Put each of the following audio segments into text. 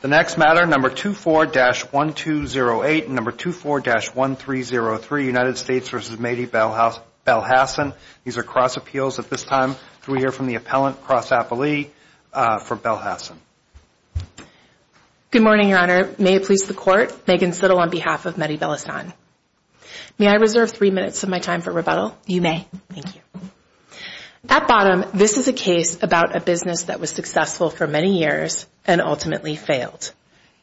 The next matter, number 24-1208 and number 24-1303, United States v. Mehdi Belhassan. These are cross appeals at this time. Can we hear from the appellant, Cross Appellee, for Belhassan? Good morning, Your Honor. May it please the Court, Megan Sittle on behalf of Mehdi Belhassan. May I reserve three minutes of my time for rebuttal? You may. Thank you. At bottom, this is a case about a business that was successful for many years and ultimately failed.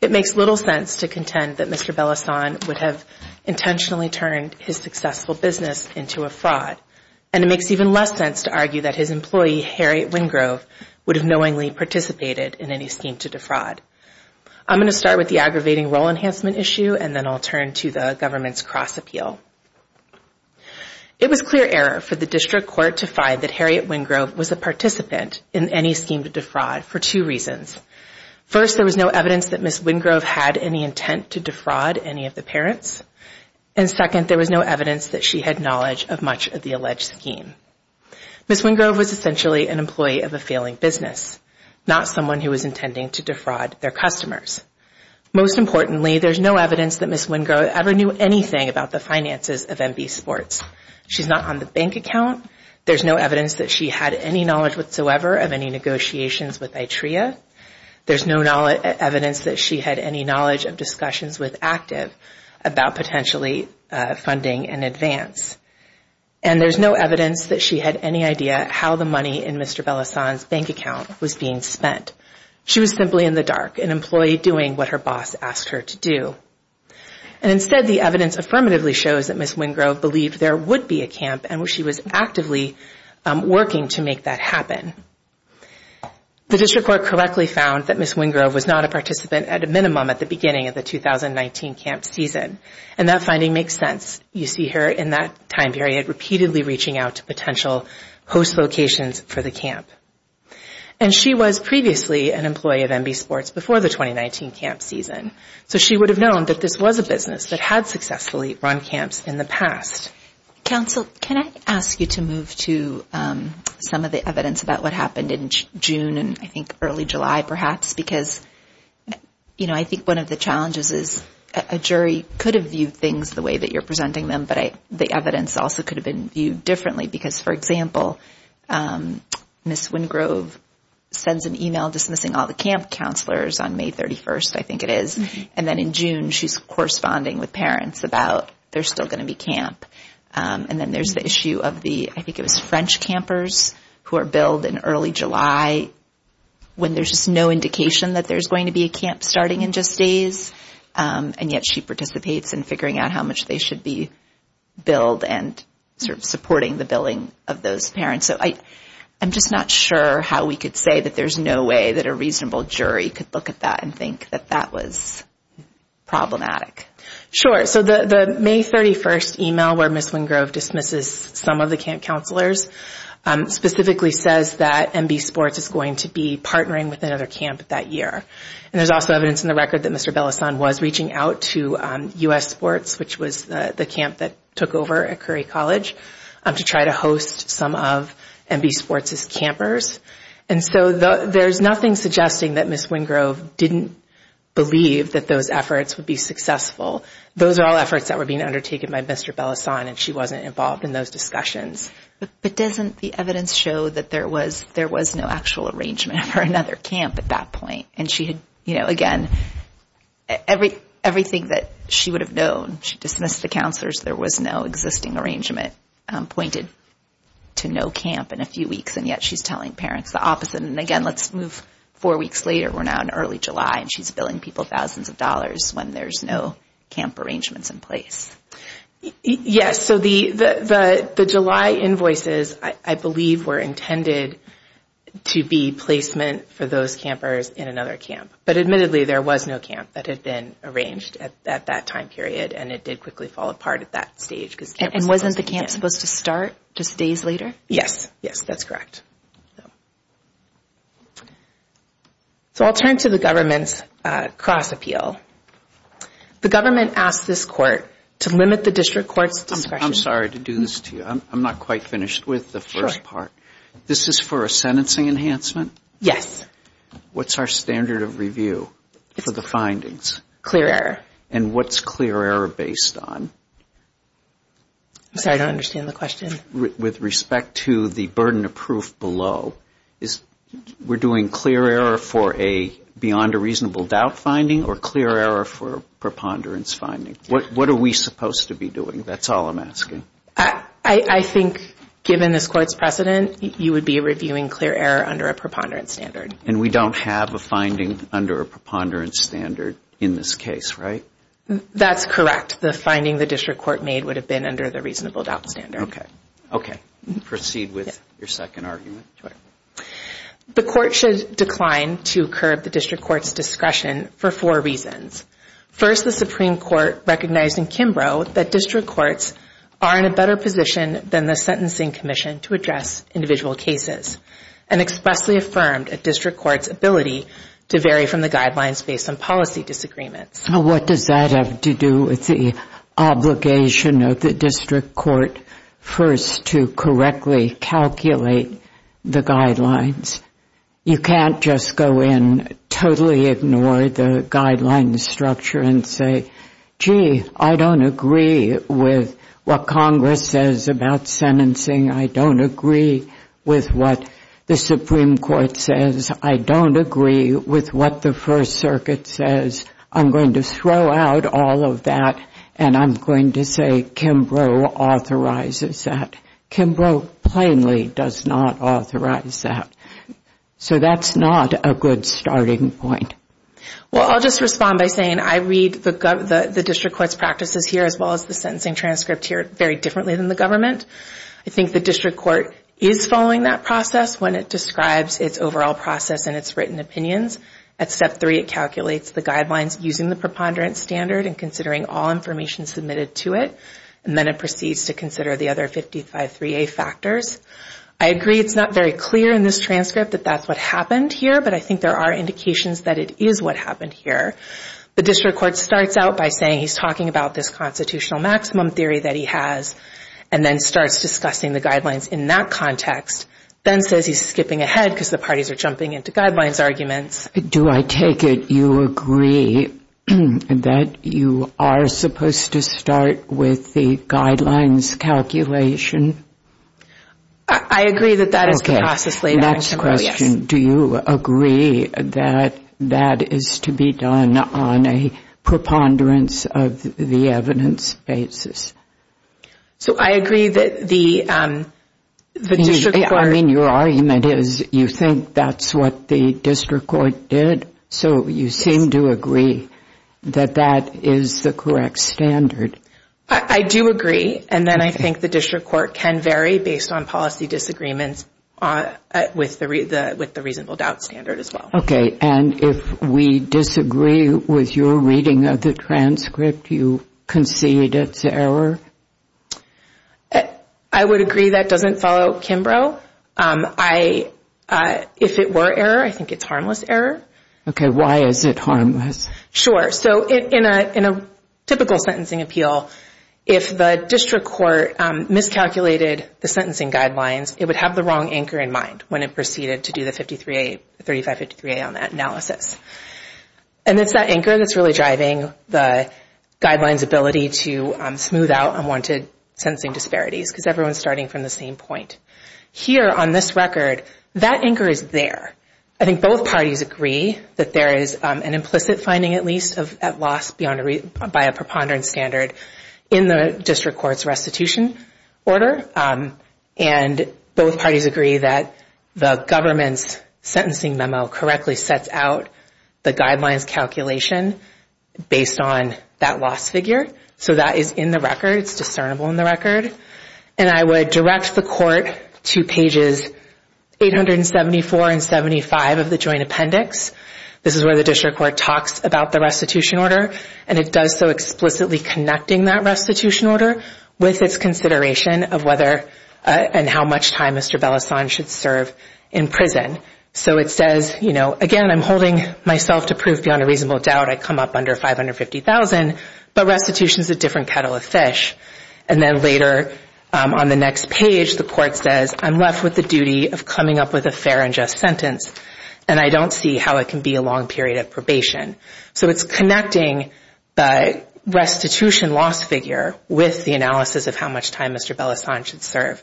It makes little sense to contend that Mr. Belhassan would have intentionally turned his successful business into a fraud. And it makes even less sense to argue that his employee, Harriet Wingrove, would have knowingly participated in any scheme to defraud. I'm going to start with the aggravating role enhancement issue, and then I'll turn to the government's cross appeal. It was clear error for the District Court to find that Harriet Wingrove was a participant in any scheme to defraud for two reasons. First, there was no evidence that Ms. Wingrove had any intent to defraud any of the parents. And second, there was no evidence that she had knowledge of much of the alleged scheme. Ms. Wingrove was essentially an employee of a failing business, not someone who was intending to defraud their customers. Most importantly, there's no evidence that Ms. Wingrove ever knew anything about the finances of MBSports. She's not on the bank account. There's no evidence that she had any knowledge whatsoever of any negotiations with ITREA. There's no evidence that she had any knowledge of discussions with ACTIV about potentially funding in advance. And there's no evidence that she had any idea how the money in Mr. Belhassan's bank account was being spent. She was simply in the dark, an employee doing what her boss asked her to do. And instead, the evidence affirmatively shows that Ms. Wingrove believed there would be a camp and she was actively working to make that happen. The District Court correctly found that Ms. Wingrove was not a participant at a minimum at the beginning of the 2019 camp season. And that finding makes sense. You see her in that time period repeatedly reaching out to potential host locations for the camp. And she was previously an employee of MBSports before the 2019 camp season. So she would have known that this was a business that had successfully run camps in the past. Counsel, can I ask you to move to some of the evidence about what happened in June and I think early July perhaps? Because, you know, I think one of the challenges is a jury could have viewed things the way that you're presenting them, but the evidence also could have been viewed differently. Because, for example, Ms. Wingrove sends an email dismissing all the camp counselors on May 31st, I think it is. And then in June, she's corresponding with parents about there's still going to be camp. And then there's the issue of the, I think it was French campers who are billed in early July when there's just no indication that there's going to be a camp starting in just days. And yet she participates in figuring out how much they should be billed and sort of supporting the billing of those parents. So I'm just not sure how we could say that there's no way that a reasonable jury could look at that and think that that was problematic. Sure. So the May 31st email where Ms. Wingrove dismisses some of the camp counselors specifically says that MBSports is going to be partnering with another camp that year. And there's also evidence in the record that Mr. Bellasson was reaching out to U.S. Sports, which was the camp that took over at Curry College, to try to host some of MBSports' campers. And so there's nothing suggesting that Ms. Wingrove didn't believe that those efforts would be successful. Those are all efforts that were being undertaken by Mr. Bellasson, and she wasn't involved in those discussions. But doesn't the evidence show that there was no actual arrangement for another camp at that point? And she had, you know, again, everything that she would have known, she dismissed the counselors, there was no existing arrangement pointed to no camp in a few weeks. And yet she's telling parents the opposite. And again, let's move four weeks later. We're now in early July, and she's billing people thousands of dollars when there's no camp arrangements in place. Yes, so the July invoices, I believe, were intended to be placement for those campers in another camp. But admittedly, there was no camp that had been arranged at that time period, and it did quickly fall apart at that stage. And wasn't the camp supposed to start just days later? Yes, yes, that's correct. So I'll turn to the government's cross appeal. The government asked this court to limit the district court's discretion. I'm sorry to do this to you. I'm not quite finished with the first part. This is for a sentencing enhancement? Yes. What's our standard of review for the findings? Clear error. And what's clear error based on? I'm sorry, I don't understand the question. With respect to the burden of proof below, we're doing clear error for a beyond a reasonable doubt finding, or clear error for a preponderance finding? What are we supposed to be doing? That's all I'm asking. I think given this court's precedent, you would be reviewing clear error under a preponderance standard. And we don't have a finding under a preponderance standard in this case, right? That's correct. The finding the district court made would have been under the reasonable doubt standard. Okay. Proceed with your second argument. The court should decline to curb the district court's discretion for four reasons. First, the Supreme Court recognized in Kimbrough that district courts are in a better position than the Sentencing Commission to address individual cases, and expressly affirmed a district court's ability to vary from the guidelines based on policy disagreements. What does that have to do with the obligation of the district court first to correctly calculate the guidelines? You can't just go in, totally ignore the guidelines structure, and say, gee, I don't agree with what Congress says about sentencing. I don't agree with what the Supreme Court says. I don't agree with what the First Circuit says. I'm going to throw out all of that, and I'm going to say Kimbrough authorizes that. Kimbrough plainly does not authorize that. So that's not a good starting point. Well, I'll just respond by saying I read the district court's practices here, as well as the sentencing transcript here, very differently than the government. I think the district court is following that process when it describes its overall process and its written opinions. At Step 3, it calculates the guidelines using the preponderance standard and considering all information submitted to it. And then it proceeds to consider the other 553A factors. I agree it's not very clear in this transcript that that's what happened here, but I think there are indications that it is what happened here. The district court starts out by saying he's talking about this constitutional maximum theory that he has, and then starts discussing the guidelines in that context, then says he's skipping ahead because the parties are jumping into guidelines arguments. Do I take it you agree that you are supposed to start with the guidelines calculation? I agree that that is the process laid out in Kimbrough, yes. Okay, next question. Do you agree that that is to be done on a preponderance of the evidence basis? So I agree that the district court... I mean, your argument is you think that's what the district court did, so you seem to agree that that is the correct standard. I do agree, and then I think the district court can vary based on policy disagreements with the reasonable doubt standard as well. Okay, and if we disagree with your reading of the transcript, you concede it's error? I would agree that doesn't follow Kimbrough. If it were error, I think it's harmless error. Okay, why is it harmless? Sure, so in a typical sentencing appeal, if the district court miscalculated the sentencing guidelines, it would have the wrong anchor in mind when it proceeded to do the 5353A on that analysis. And it's that anchor that's really driving the guidelines ability to smooth out unwanted sentencing disparities, because everyone's starting from the same point. Here, on this record, that anchor is there. I think both parties agree that there is an implicit finding, at least, at loss by a preponderance standard in the district court's restitution order. And both parties agree that the government's sentencing memo correctly sets out the guidelines calculation based on that loss figure. So that is in the record. It's discernible in the record. And I would direct the court to pages 874 and 75 of the joint appendix. This is where the district court talks about the restitution order, and it does so explicitly connecting that restitution order with its consideration of whether and how much time Mr. Bellassagne should serve in prison. So it says, again, I'm holding myself to prove beyond a reasonable doubt I come up under 550,000, but restitution is a different kettle of fish. And then later on the next page, the court says, I'm left with the duty of coming up with a fair and just sentence, and I don't see how it can be a long period of probation. So it's connecting the restitution loss figure with the analysis of how much time Mr. Bellassagne should serve.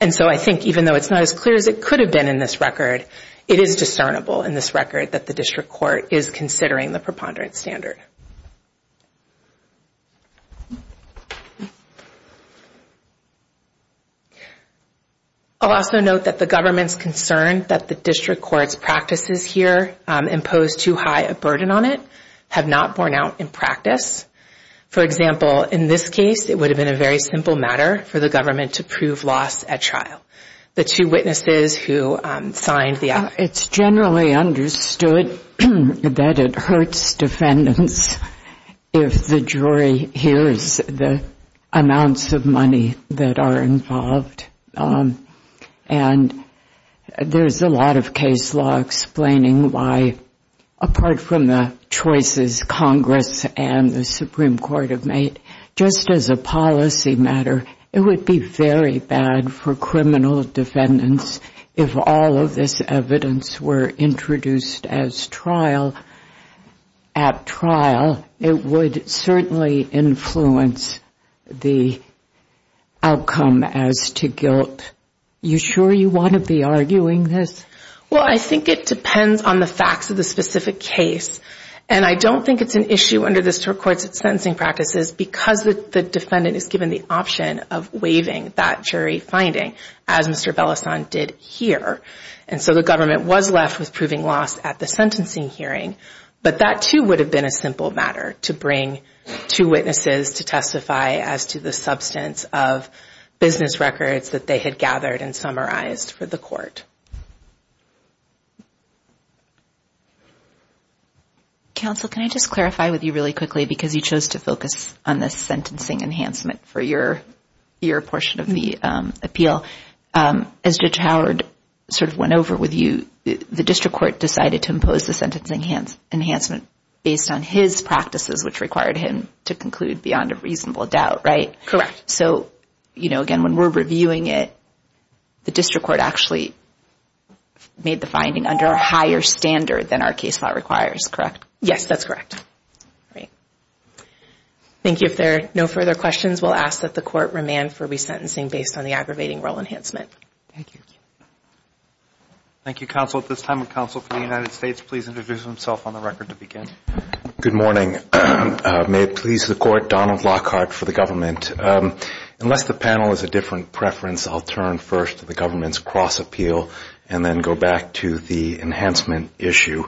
And so I think even though it's not as clear as it could have been in this record, it is discernible in this record that the district court is considering the preponderance standard. I'll also note that the government's concern that the district court's practices here impose too high a burden on it have not borne out in practice. For example, in this case, it would have been a very simple matter for the government to prove loss at trial. The two witnesses who signed the act. It's generally understood that it hurts defendants if the jury hears the amounts of money that are involved. And there's a lot of case law explaining why, apart from the choices Congress and the Supreme Court have made, just as a policy matter, it would be very bad for criminal defendants if all of this evidence were introduced at trial. It would certainly influence the outcome as to guilt. You sure you want to be arguing this? Well, I think it depends on the facts of the specific case. And I don't think it's an issue under the district court's sentencing practices because the defendant is given the option of waiving that jury finding, as Mr. Bellassagne did here. And so the government was left with proving loss at the sentencing hearing. But that, too, would have been a simple matter to bring two witnesses to testify as to the substance of business records that they had gathered and summarized for the court. Counsel, can I just clarify with you really quickly because you chose to focus on the sentencing enhancement for your portion of the appeal? As Judge Howard sort of went over with you, the district court decided to impose the sentencing enhancement based on his practices, which required him to conclude beyond a reasonable doubt, right? Correct. So, you know, again, when we're reviewing it, the district court actually made the finding under a higher standard than our case law requires, correct? Yes, that's correct. Thank you. If there are no further questions, we'll ask that the court remand for resentencing based on the aggravating role enhancement. Thank you. Good morning. May it please the court, Donald Lockhart for the government. Unless the panel has a different preference, I'll turn first to the government's cross appeal and then go back to the enhancement issue.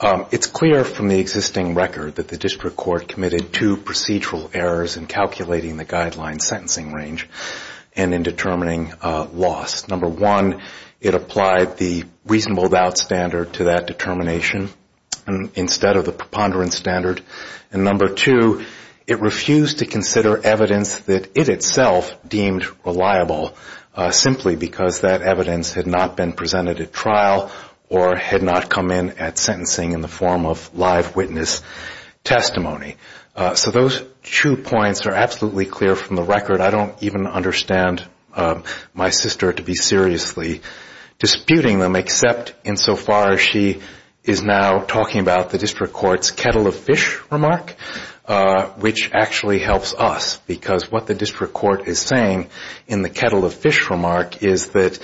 It's clear from the existing record that the district court committed two procedural errors in calculating the guideline sentencing range and in determining loss. Number one, it applied the reasonable doubt standard to that determination instead of the preponderance standard, and number two, it refused to consider evidence that it itself deemed reliable simply because that evidence had not been presented at trial or had not come in at sentencing in the form of live witness testimony. So those two points are absolutely clear from the record. I don't even understand my sister to be seriously disputing them, except insofar as she is now talking about the kettle of fish remark, which actually helps us, because what the district court is saying in the kettle of fish remark is that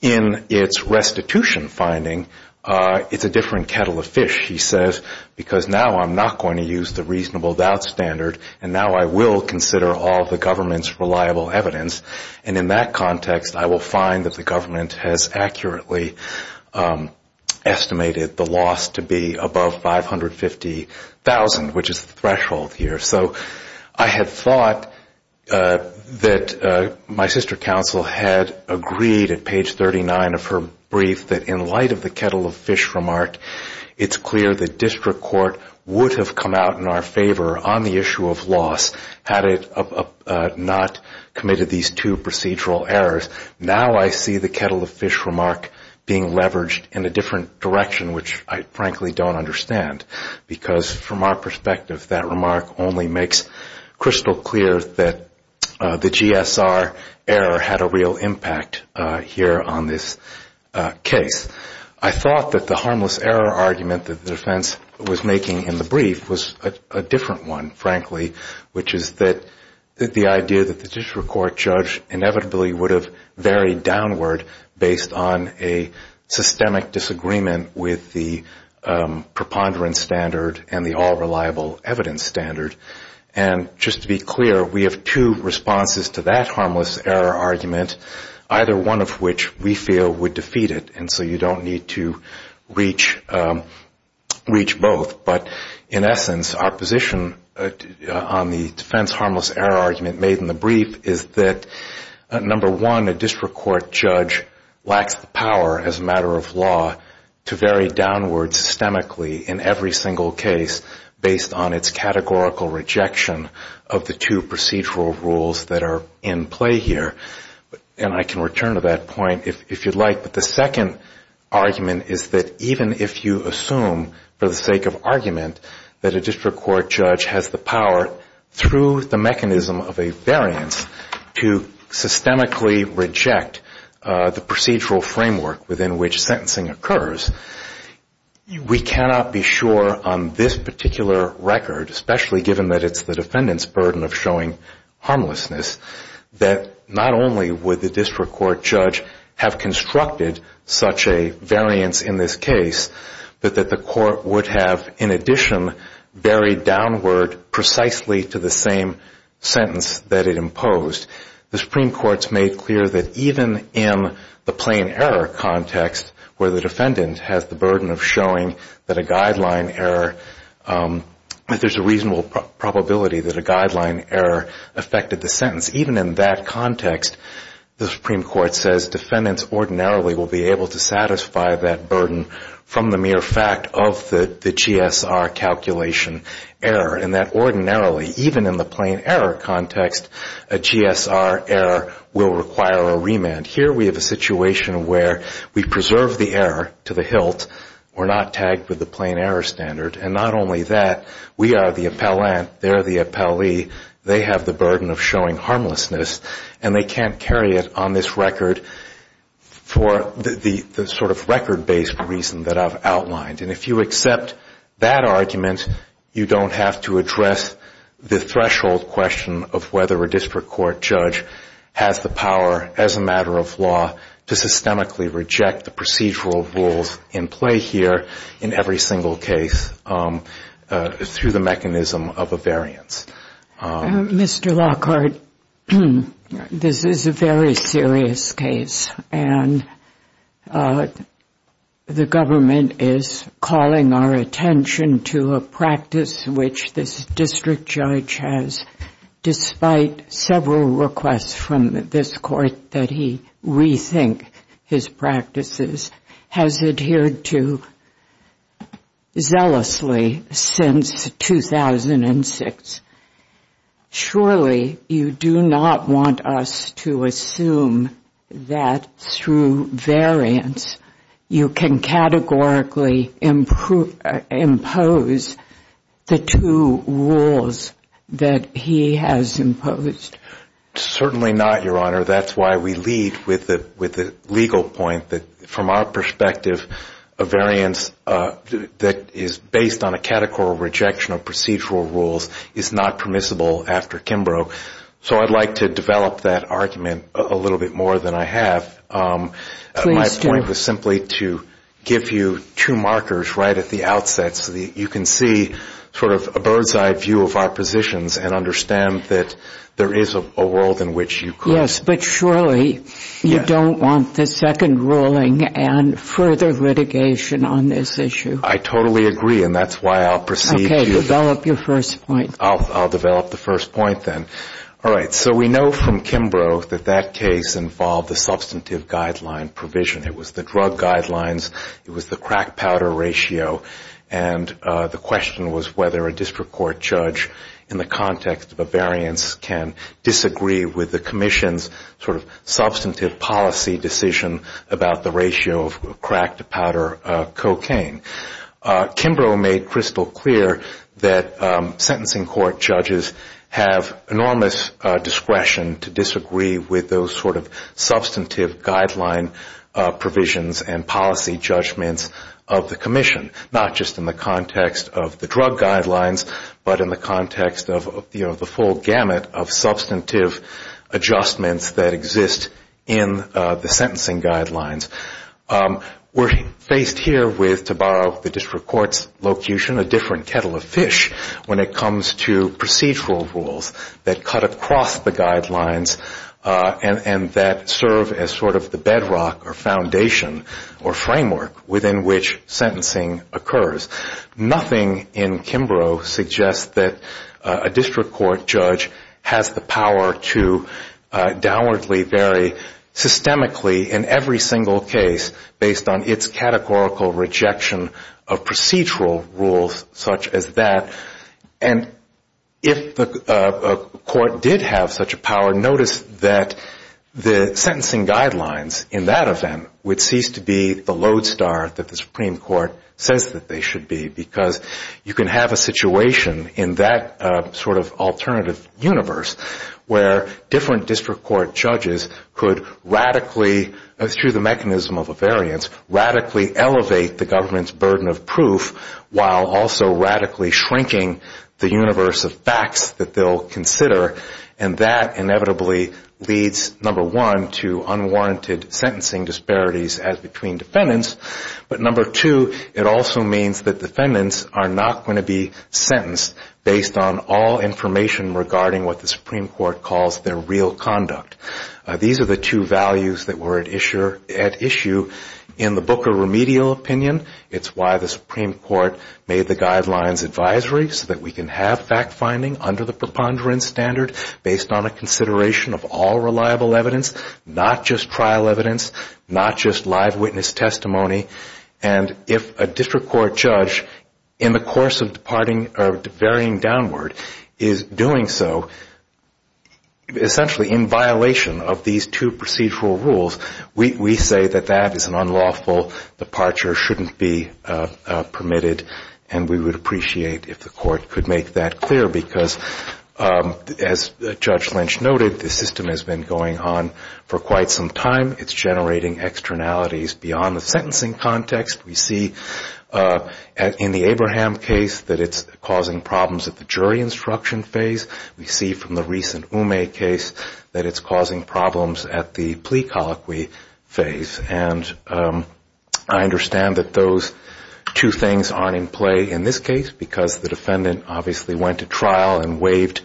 in its restitution finding, it's a different kettle of fish. He says, because now I'm not going to use the reasonable doubt standard, and now I will consider all the government's reliable evidence, and in that context, I will find that the government has accurately estimated the loss to be above 550 thousand, which is the threshold here. So I had thought that my sister counsel had agreed at page 39 of her brief that in light of the kettle of fish remark, it's clear the district court would have come out in our favor on the issue of loss had it not committed these two procedural errors. Now I see the kettle of fish remark being leveraged in a different direction, which I frankly don't understand. Because from our perspective, that remark only makes crystal clear that the GSR error had a real impact here on this case. I thought that the harmless error argument that the defense was making in the brief was a different one, frankly, which is that the idea that the district court judge inevitably would have varied downward based on a systemic disagreement with the ponderance standard and the all-reliable evidence standard. And just to be clear, we have two responses to that harmless error argument, either one of which we feel would defeat it. And so you don't need to reach both. But in essence, our position on the defense harmless error argument made in the brief is that, number one, a district court judge lacks the power as a matter of law to vary downward systemically in every single case based on its categorical rejection of the two procedural rules that are in play here. And I can return to that point if you'd like. But the second argument is that even if you assume for the sake of argument that a district court judge has the power through the procedural framework within which sentencing occurs, we cannot be sure on this particular record, especially given that it's the defendant's burden of showing harmlessness, that not only would the district court judge have constructed such a variance in this case, but that the court would have, in addition, varied downward precisely to the same sentence that it imposed. The Supreme Court's made clear that even in the plain error context where the defendant has the burden of showing that a guideline error, that there's a reasonable probability that a guideline error affected the sentence, even in that context, the Supreme Court says defendants ordinarily will be able to satisfy that burden from the mere fact of the GSR calculation error, and that ordinarily, even in the GSR error, will require a remand. Here we have a situation where we preserve the error to the hilt, we're not tagged with the plain error standard, and not only that, we are the appellant, they're the appellee, they have the burden of showing harmlessness, and they can't carry it on this record for the sort of record-based reason that I've outlined. And if you accept that argument, you don't have to address the threshold question of whether a district court judge has the power, as a matter of law, to systemically reject the procedural rules in play here, in every single case, through the mechanism of a variance. Mr. Lockhart, this is a very serious case, and the government is, as I understand it, very concerned about this. Calling our attention to a practice which this district judge has, despite several requests from this court that he rethink his practices, has adhered to zealously since 2006. Surely, you do not want us to assume that, through variance, you can categorically implement the procedural rules. Do you want to impose the two rules that he has imposed? Certainly not, Your Honor. That's why we lead with the legal point that, from our perspective, a variance that is based on a categorical rejection of procedural rules is not permissible after Kimbrough. So I'd like to develop that argument a little bit more than I have. My point was simply to give you two markers right at the outset so that you can see sort of a bird's-eye view of our positions and understand that there is a world in which you could. Yes, but surely you don't want the second ruling and further litigation on this issue. I totally agree, and that's why I'll proceed. Okay, develop your first point. I'll develop the first point then. All right, so we know from Kimbrough that that case involved a substantive guideline provision. It was the drug guidelines, it was the crack powder ratio, and the question was whether a district court judge in the context of a variance can disagree with the commission's sort of substantive policy decision about the ratio of crack to powder cocaine. Kimbrough made crystal clear that sentencing court judges have enormous discretion to disagree with those sort of substantive guideline provisions and policy judgments of the commission, not just in the context of the drug guidelines, but in the context of the full gamut of substantive adjustments that exist in the sentencing guidelines. We're faced here with, to borrow the district court's locution, a different kettle of fish when it comes to procedural rules that cut across the guidelines and that serve as sort of the bedrock or foundation or framework within which sentencing occurs. Nothing in Kimbrough suggests that a district court judge has the power to downwardly vary systemically in every single case based on its categorical rejection of procedural rules such as that, and if the court did have such a power, notice that the sentencing guidelines in that event would cease to be the lodestar that the Supreme Court says that they should be, because you can have a situation in that sort of alternative universe where different district court judges could radically, through the mechanism of a variance, radically elevate the government's burden of proof while also radically shrinking the universe of facts that they'll consider, and that inevitably leads, number one, to unwarranted sentencing disparities as between defendants, but number two, it also means that defendants are not going to be sentenced based on all information regarding what the Supreme Court calls their real case, and that's why we have that issue in the book of remedial opinion. It's why the Supreme Court made the guidelines advisory so that we can have fact-finding under the preponderance standard based on a consideration of all reliable evidence, not just trial evidence, not just live witness testimony, and if a district court judge in the course of varying downward is doing so, essentially in violation of these two procedural rules, we say that that is an unlawful departure, shouldn't be permitted, and we would appreciate if the court could make that clear, because as Judge Lynch noted, the system has been going on for quite some time. It's generating externalities beyond the sentencing context. We see in the Abraham case that it's causing problems at the jury instruction phase. We see from the recent Ume case that it's causing problems at the plea colloquy phase, and I understand that those two things aren't in play in this case, because the defendant obviously went to trial and waived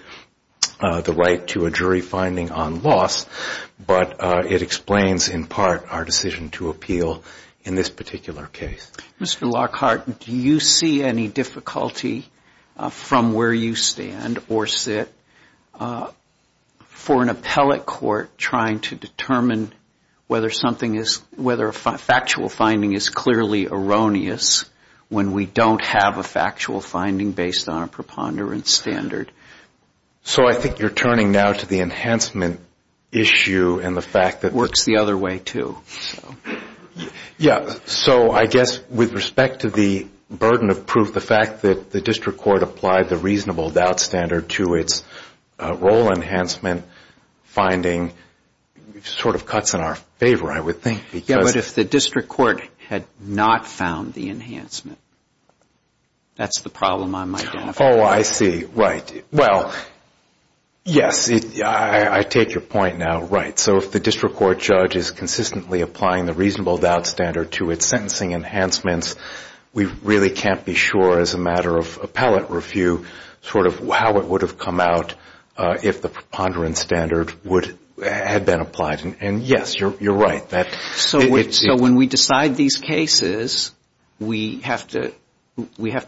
the right to a jury finding on loss, but it explains in part our decision to appeal in this particular case. Mr. Lockhart, do you see any difficulty from where you stand or sit for an appeal? We're an appellate court trying to determine whether a factual finding is clearly erroneous when we don't have a factual finding based on a preponderance standard. So I think you're turning now to the enhancement issue and the fact that works the other way, too. Yeah, so I guess with respect to the burden of proof, the fact that the district court applied the reasonable doubt standard to its role enhancement finding sort of cuts in our favor, I would think. Yeah, but if the district court had not found the enhancement, that's the problem I'm identifying. Oh, I see. Right. Well, yes, I take your point now. Right. So if the district court judge is consistently applying the reasonable doubt standard to its sentencing enhancements, we really can't be sure as a matter of appellate review sort of how it would have come out if the preponderance standard had been applied. And, yes, you're right. So when we decide these cases, we have to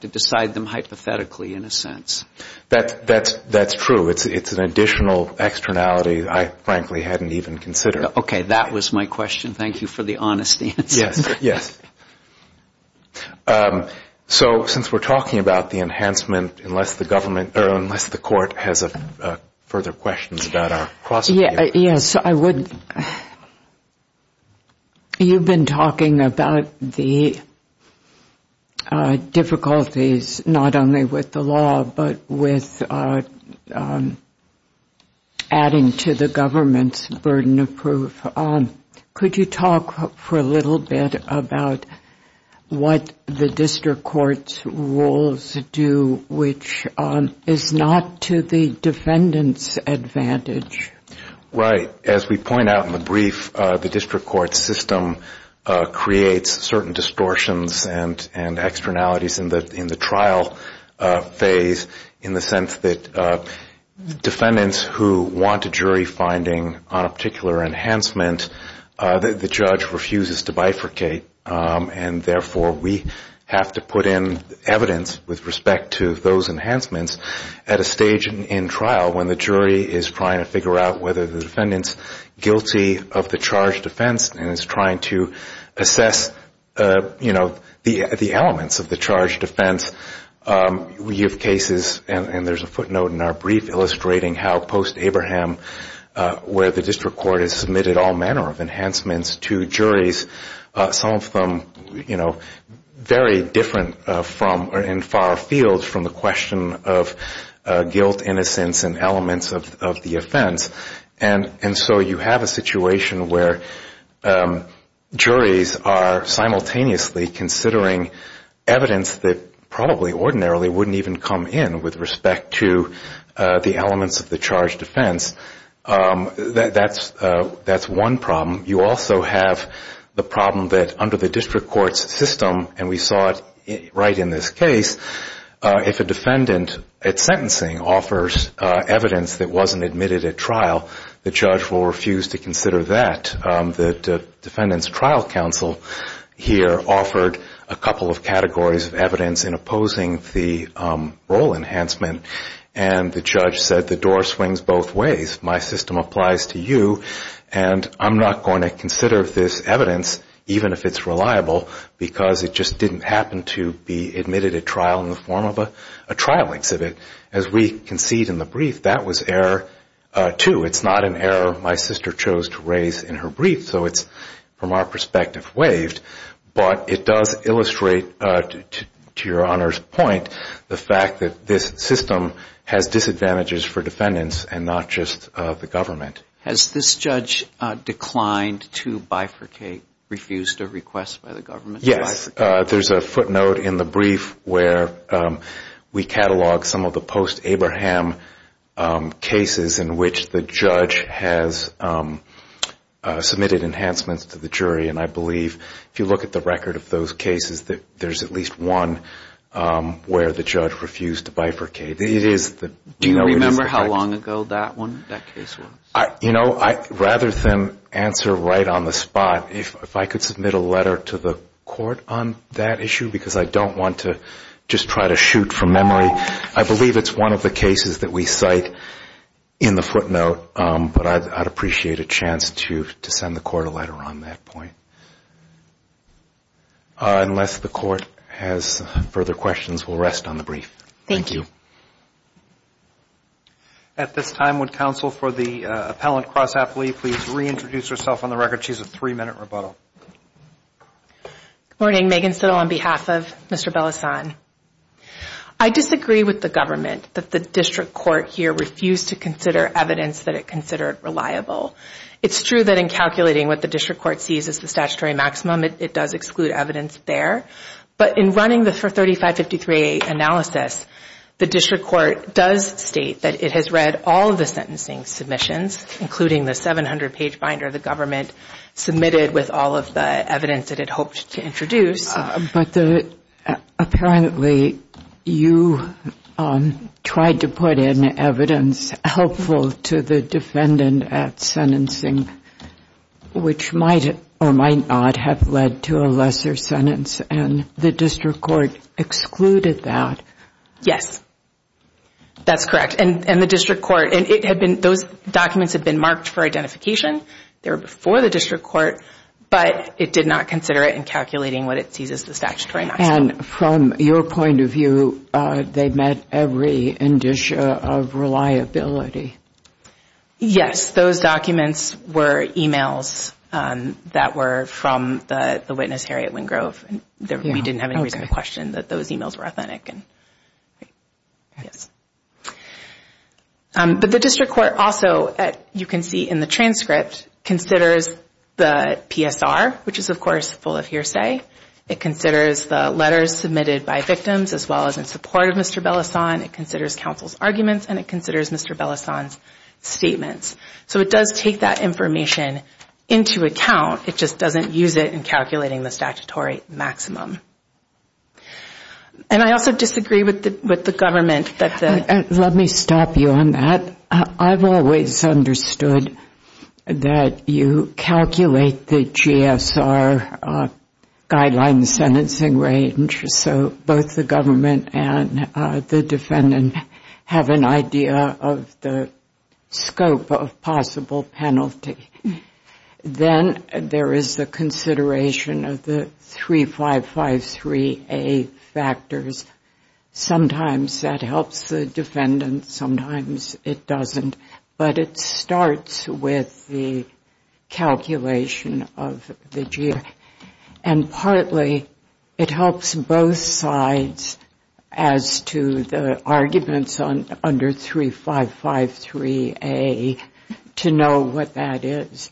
decide them hypothetically, in a sense. That's true. It's an additional externality I frankly hadn't even considered. Okay. That was my question. Thank you for the honest answer. Yes. So since we're talking about the enhancement, unless the court has a further question. Yes, I would. You've been talking about the difficulties, not only with the law, but with adding to the government's burden of proof. Could you talk for a little bit about what the district court's rules do, which is not to the defendant's advantage. Right. As we point out in the brief, the district court system creates certain distortions and externalities in the trial phase, in the sense that defendants who want a jury finding on a particular enhancement, the judge refuses to bifurcate, and therefore we have to put in evidence with respect to those enhancements at a stage in trial when the jury is trying to figure out whether the defendant's guilty of the charged offense and is trying to assess, you know, the elements of the charged offense. We have cases, and there's a footnote in our brief illustrating how post-Abraham, where the district court has submitted all manner of enhancements to juries, some of them, you know, very different from or in far fields from what the district court has submitted. It's very different from the question of guilt, innocence, and elements of the offense. And so you have a situation where juries are simultaneously considering evidence that probably ordinarily wouldn't even come in with respect to the elements of the charged offense. That's one problem. You also have the problem that under the district court's system, and we saw it right in this case, if a defendant at sentencing offers evidence that wasn't admitted at trial, the judge will refuse to consider that. The defendant's trial counsel here offered a couple of categories of evidence in opposing the role enhancement, and the judge said the door swings both ways. My system applies to you, and I'm not going to consider this evidence, even if it's reliable, because it just didn't happen to be admitted at trial in the form of a trial exhibit. As we concede in the brief, that was error, too. It's not an error my sister chose to raise in her brief, so it's, from our perspective, waived. But it does illustrate, to your Honor's point, the fact that this system has disadvantages for defendants and not just the government. Has this judge declined to bifurcate, refused a request by the government to bifurcate? Yes. There's a footnote in the brief where we catalog some of the post-Abraham cases in which the judge has submitted enhancements to the jury, and I believe if you look at the record of those cases, that there's at least one where the judge refused to bifurcate. Do you remember how long ago that one, that case was? You know, rather than answer right on the spot, if I could submit a letter to the court on that issue, because I don't want to just try to shoot from memory, I believe it's one of the cases that we cite in the footnote, but I'd appreciate a chance to send the court a letter on that point. Unless the court has further questions, we'll rest on the brief. Thank you. At this time, would counsel for the appellant cross-appellee please reintroduce herself on the record. She has a three-minute rebuttal. Good morning. Megan Sittle on behalf of Mr. Bellasson. I disagree with the government that the district court here refused to consider evidence that it considered reliable. It's true that in calculating what the district court sees as the statutory maximum, it does exclude evidence there. But in running the 3553A analysis, the district court does state that it has read all of the sentencing submissions, including the 700-page binder the government submitted with all of the evidence it had hoped to introduce. But apparently you tried to put in evidence helpful to the defendant at some point. And you did include evidence in the sentencing, which might or might not have led to a lesser sentence, and the district court excluded that. Yes, that's correct. And the district court, those documents had been marked for identification. They were before the district court, but it did not consider it in calculating what it sees as the statutory maximum. And from your point of view, they met every indicia of reliability. Yes, those documents were e-mails that were from the witness Harriet Wingrove. We didn't have any reason to question that those e-mails were authentic. But the district court also, you can see in the transcript, considers the PSR, which is, of course, full of hearsay. It considers the letters submitted by victims, as well as in support of Mr. Bellison. It considers counsel's arguments, and it considers Mr. Bellison's statements. So it does take that information into account. It just doesn't use it in calculating the statutory maximum. And I also disagree with the government. Let me stop you on that. I've always understood that you calculate the GSR guideline sentencing range, so both the government and the defendant have an idea of the scope of possible penalty. Then there is the consideration of the 3553A factors. Sometimes that helps the defendant, sometimes it doesn't. But it starts with the calculation of the GSR. And partly it helps both sides as to the arguments under 3553A to know what that is.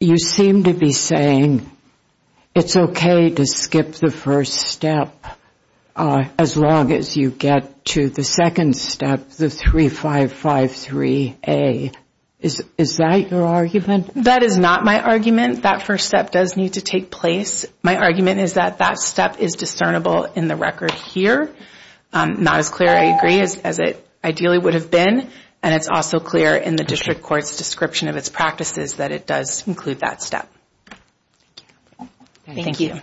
You seem to be saying it's okay to skip the first step. As long as you get to the second step, the 3553A. Is that your argument? That is not my argument. That first step does need to take place. My argument is that that step is discernible in the record here. Not as clear, I agree, as it ideally would have been. And it's also clear in the district court's description of its practices that it does include that step. Thank you.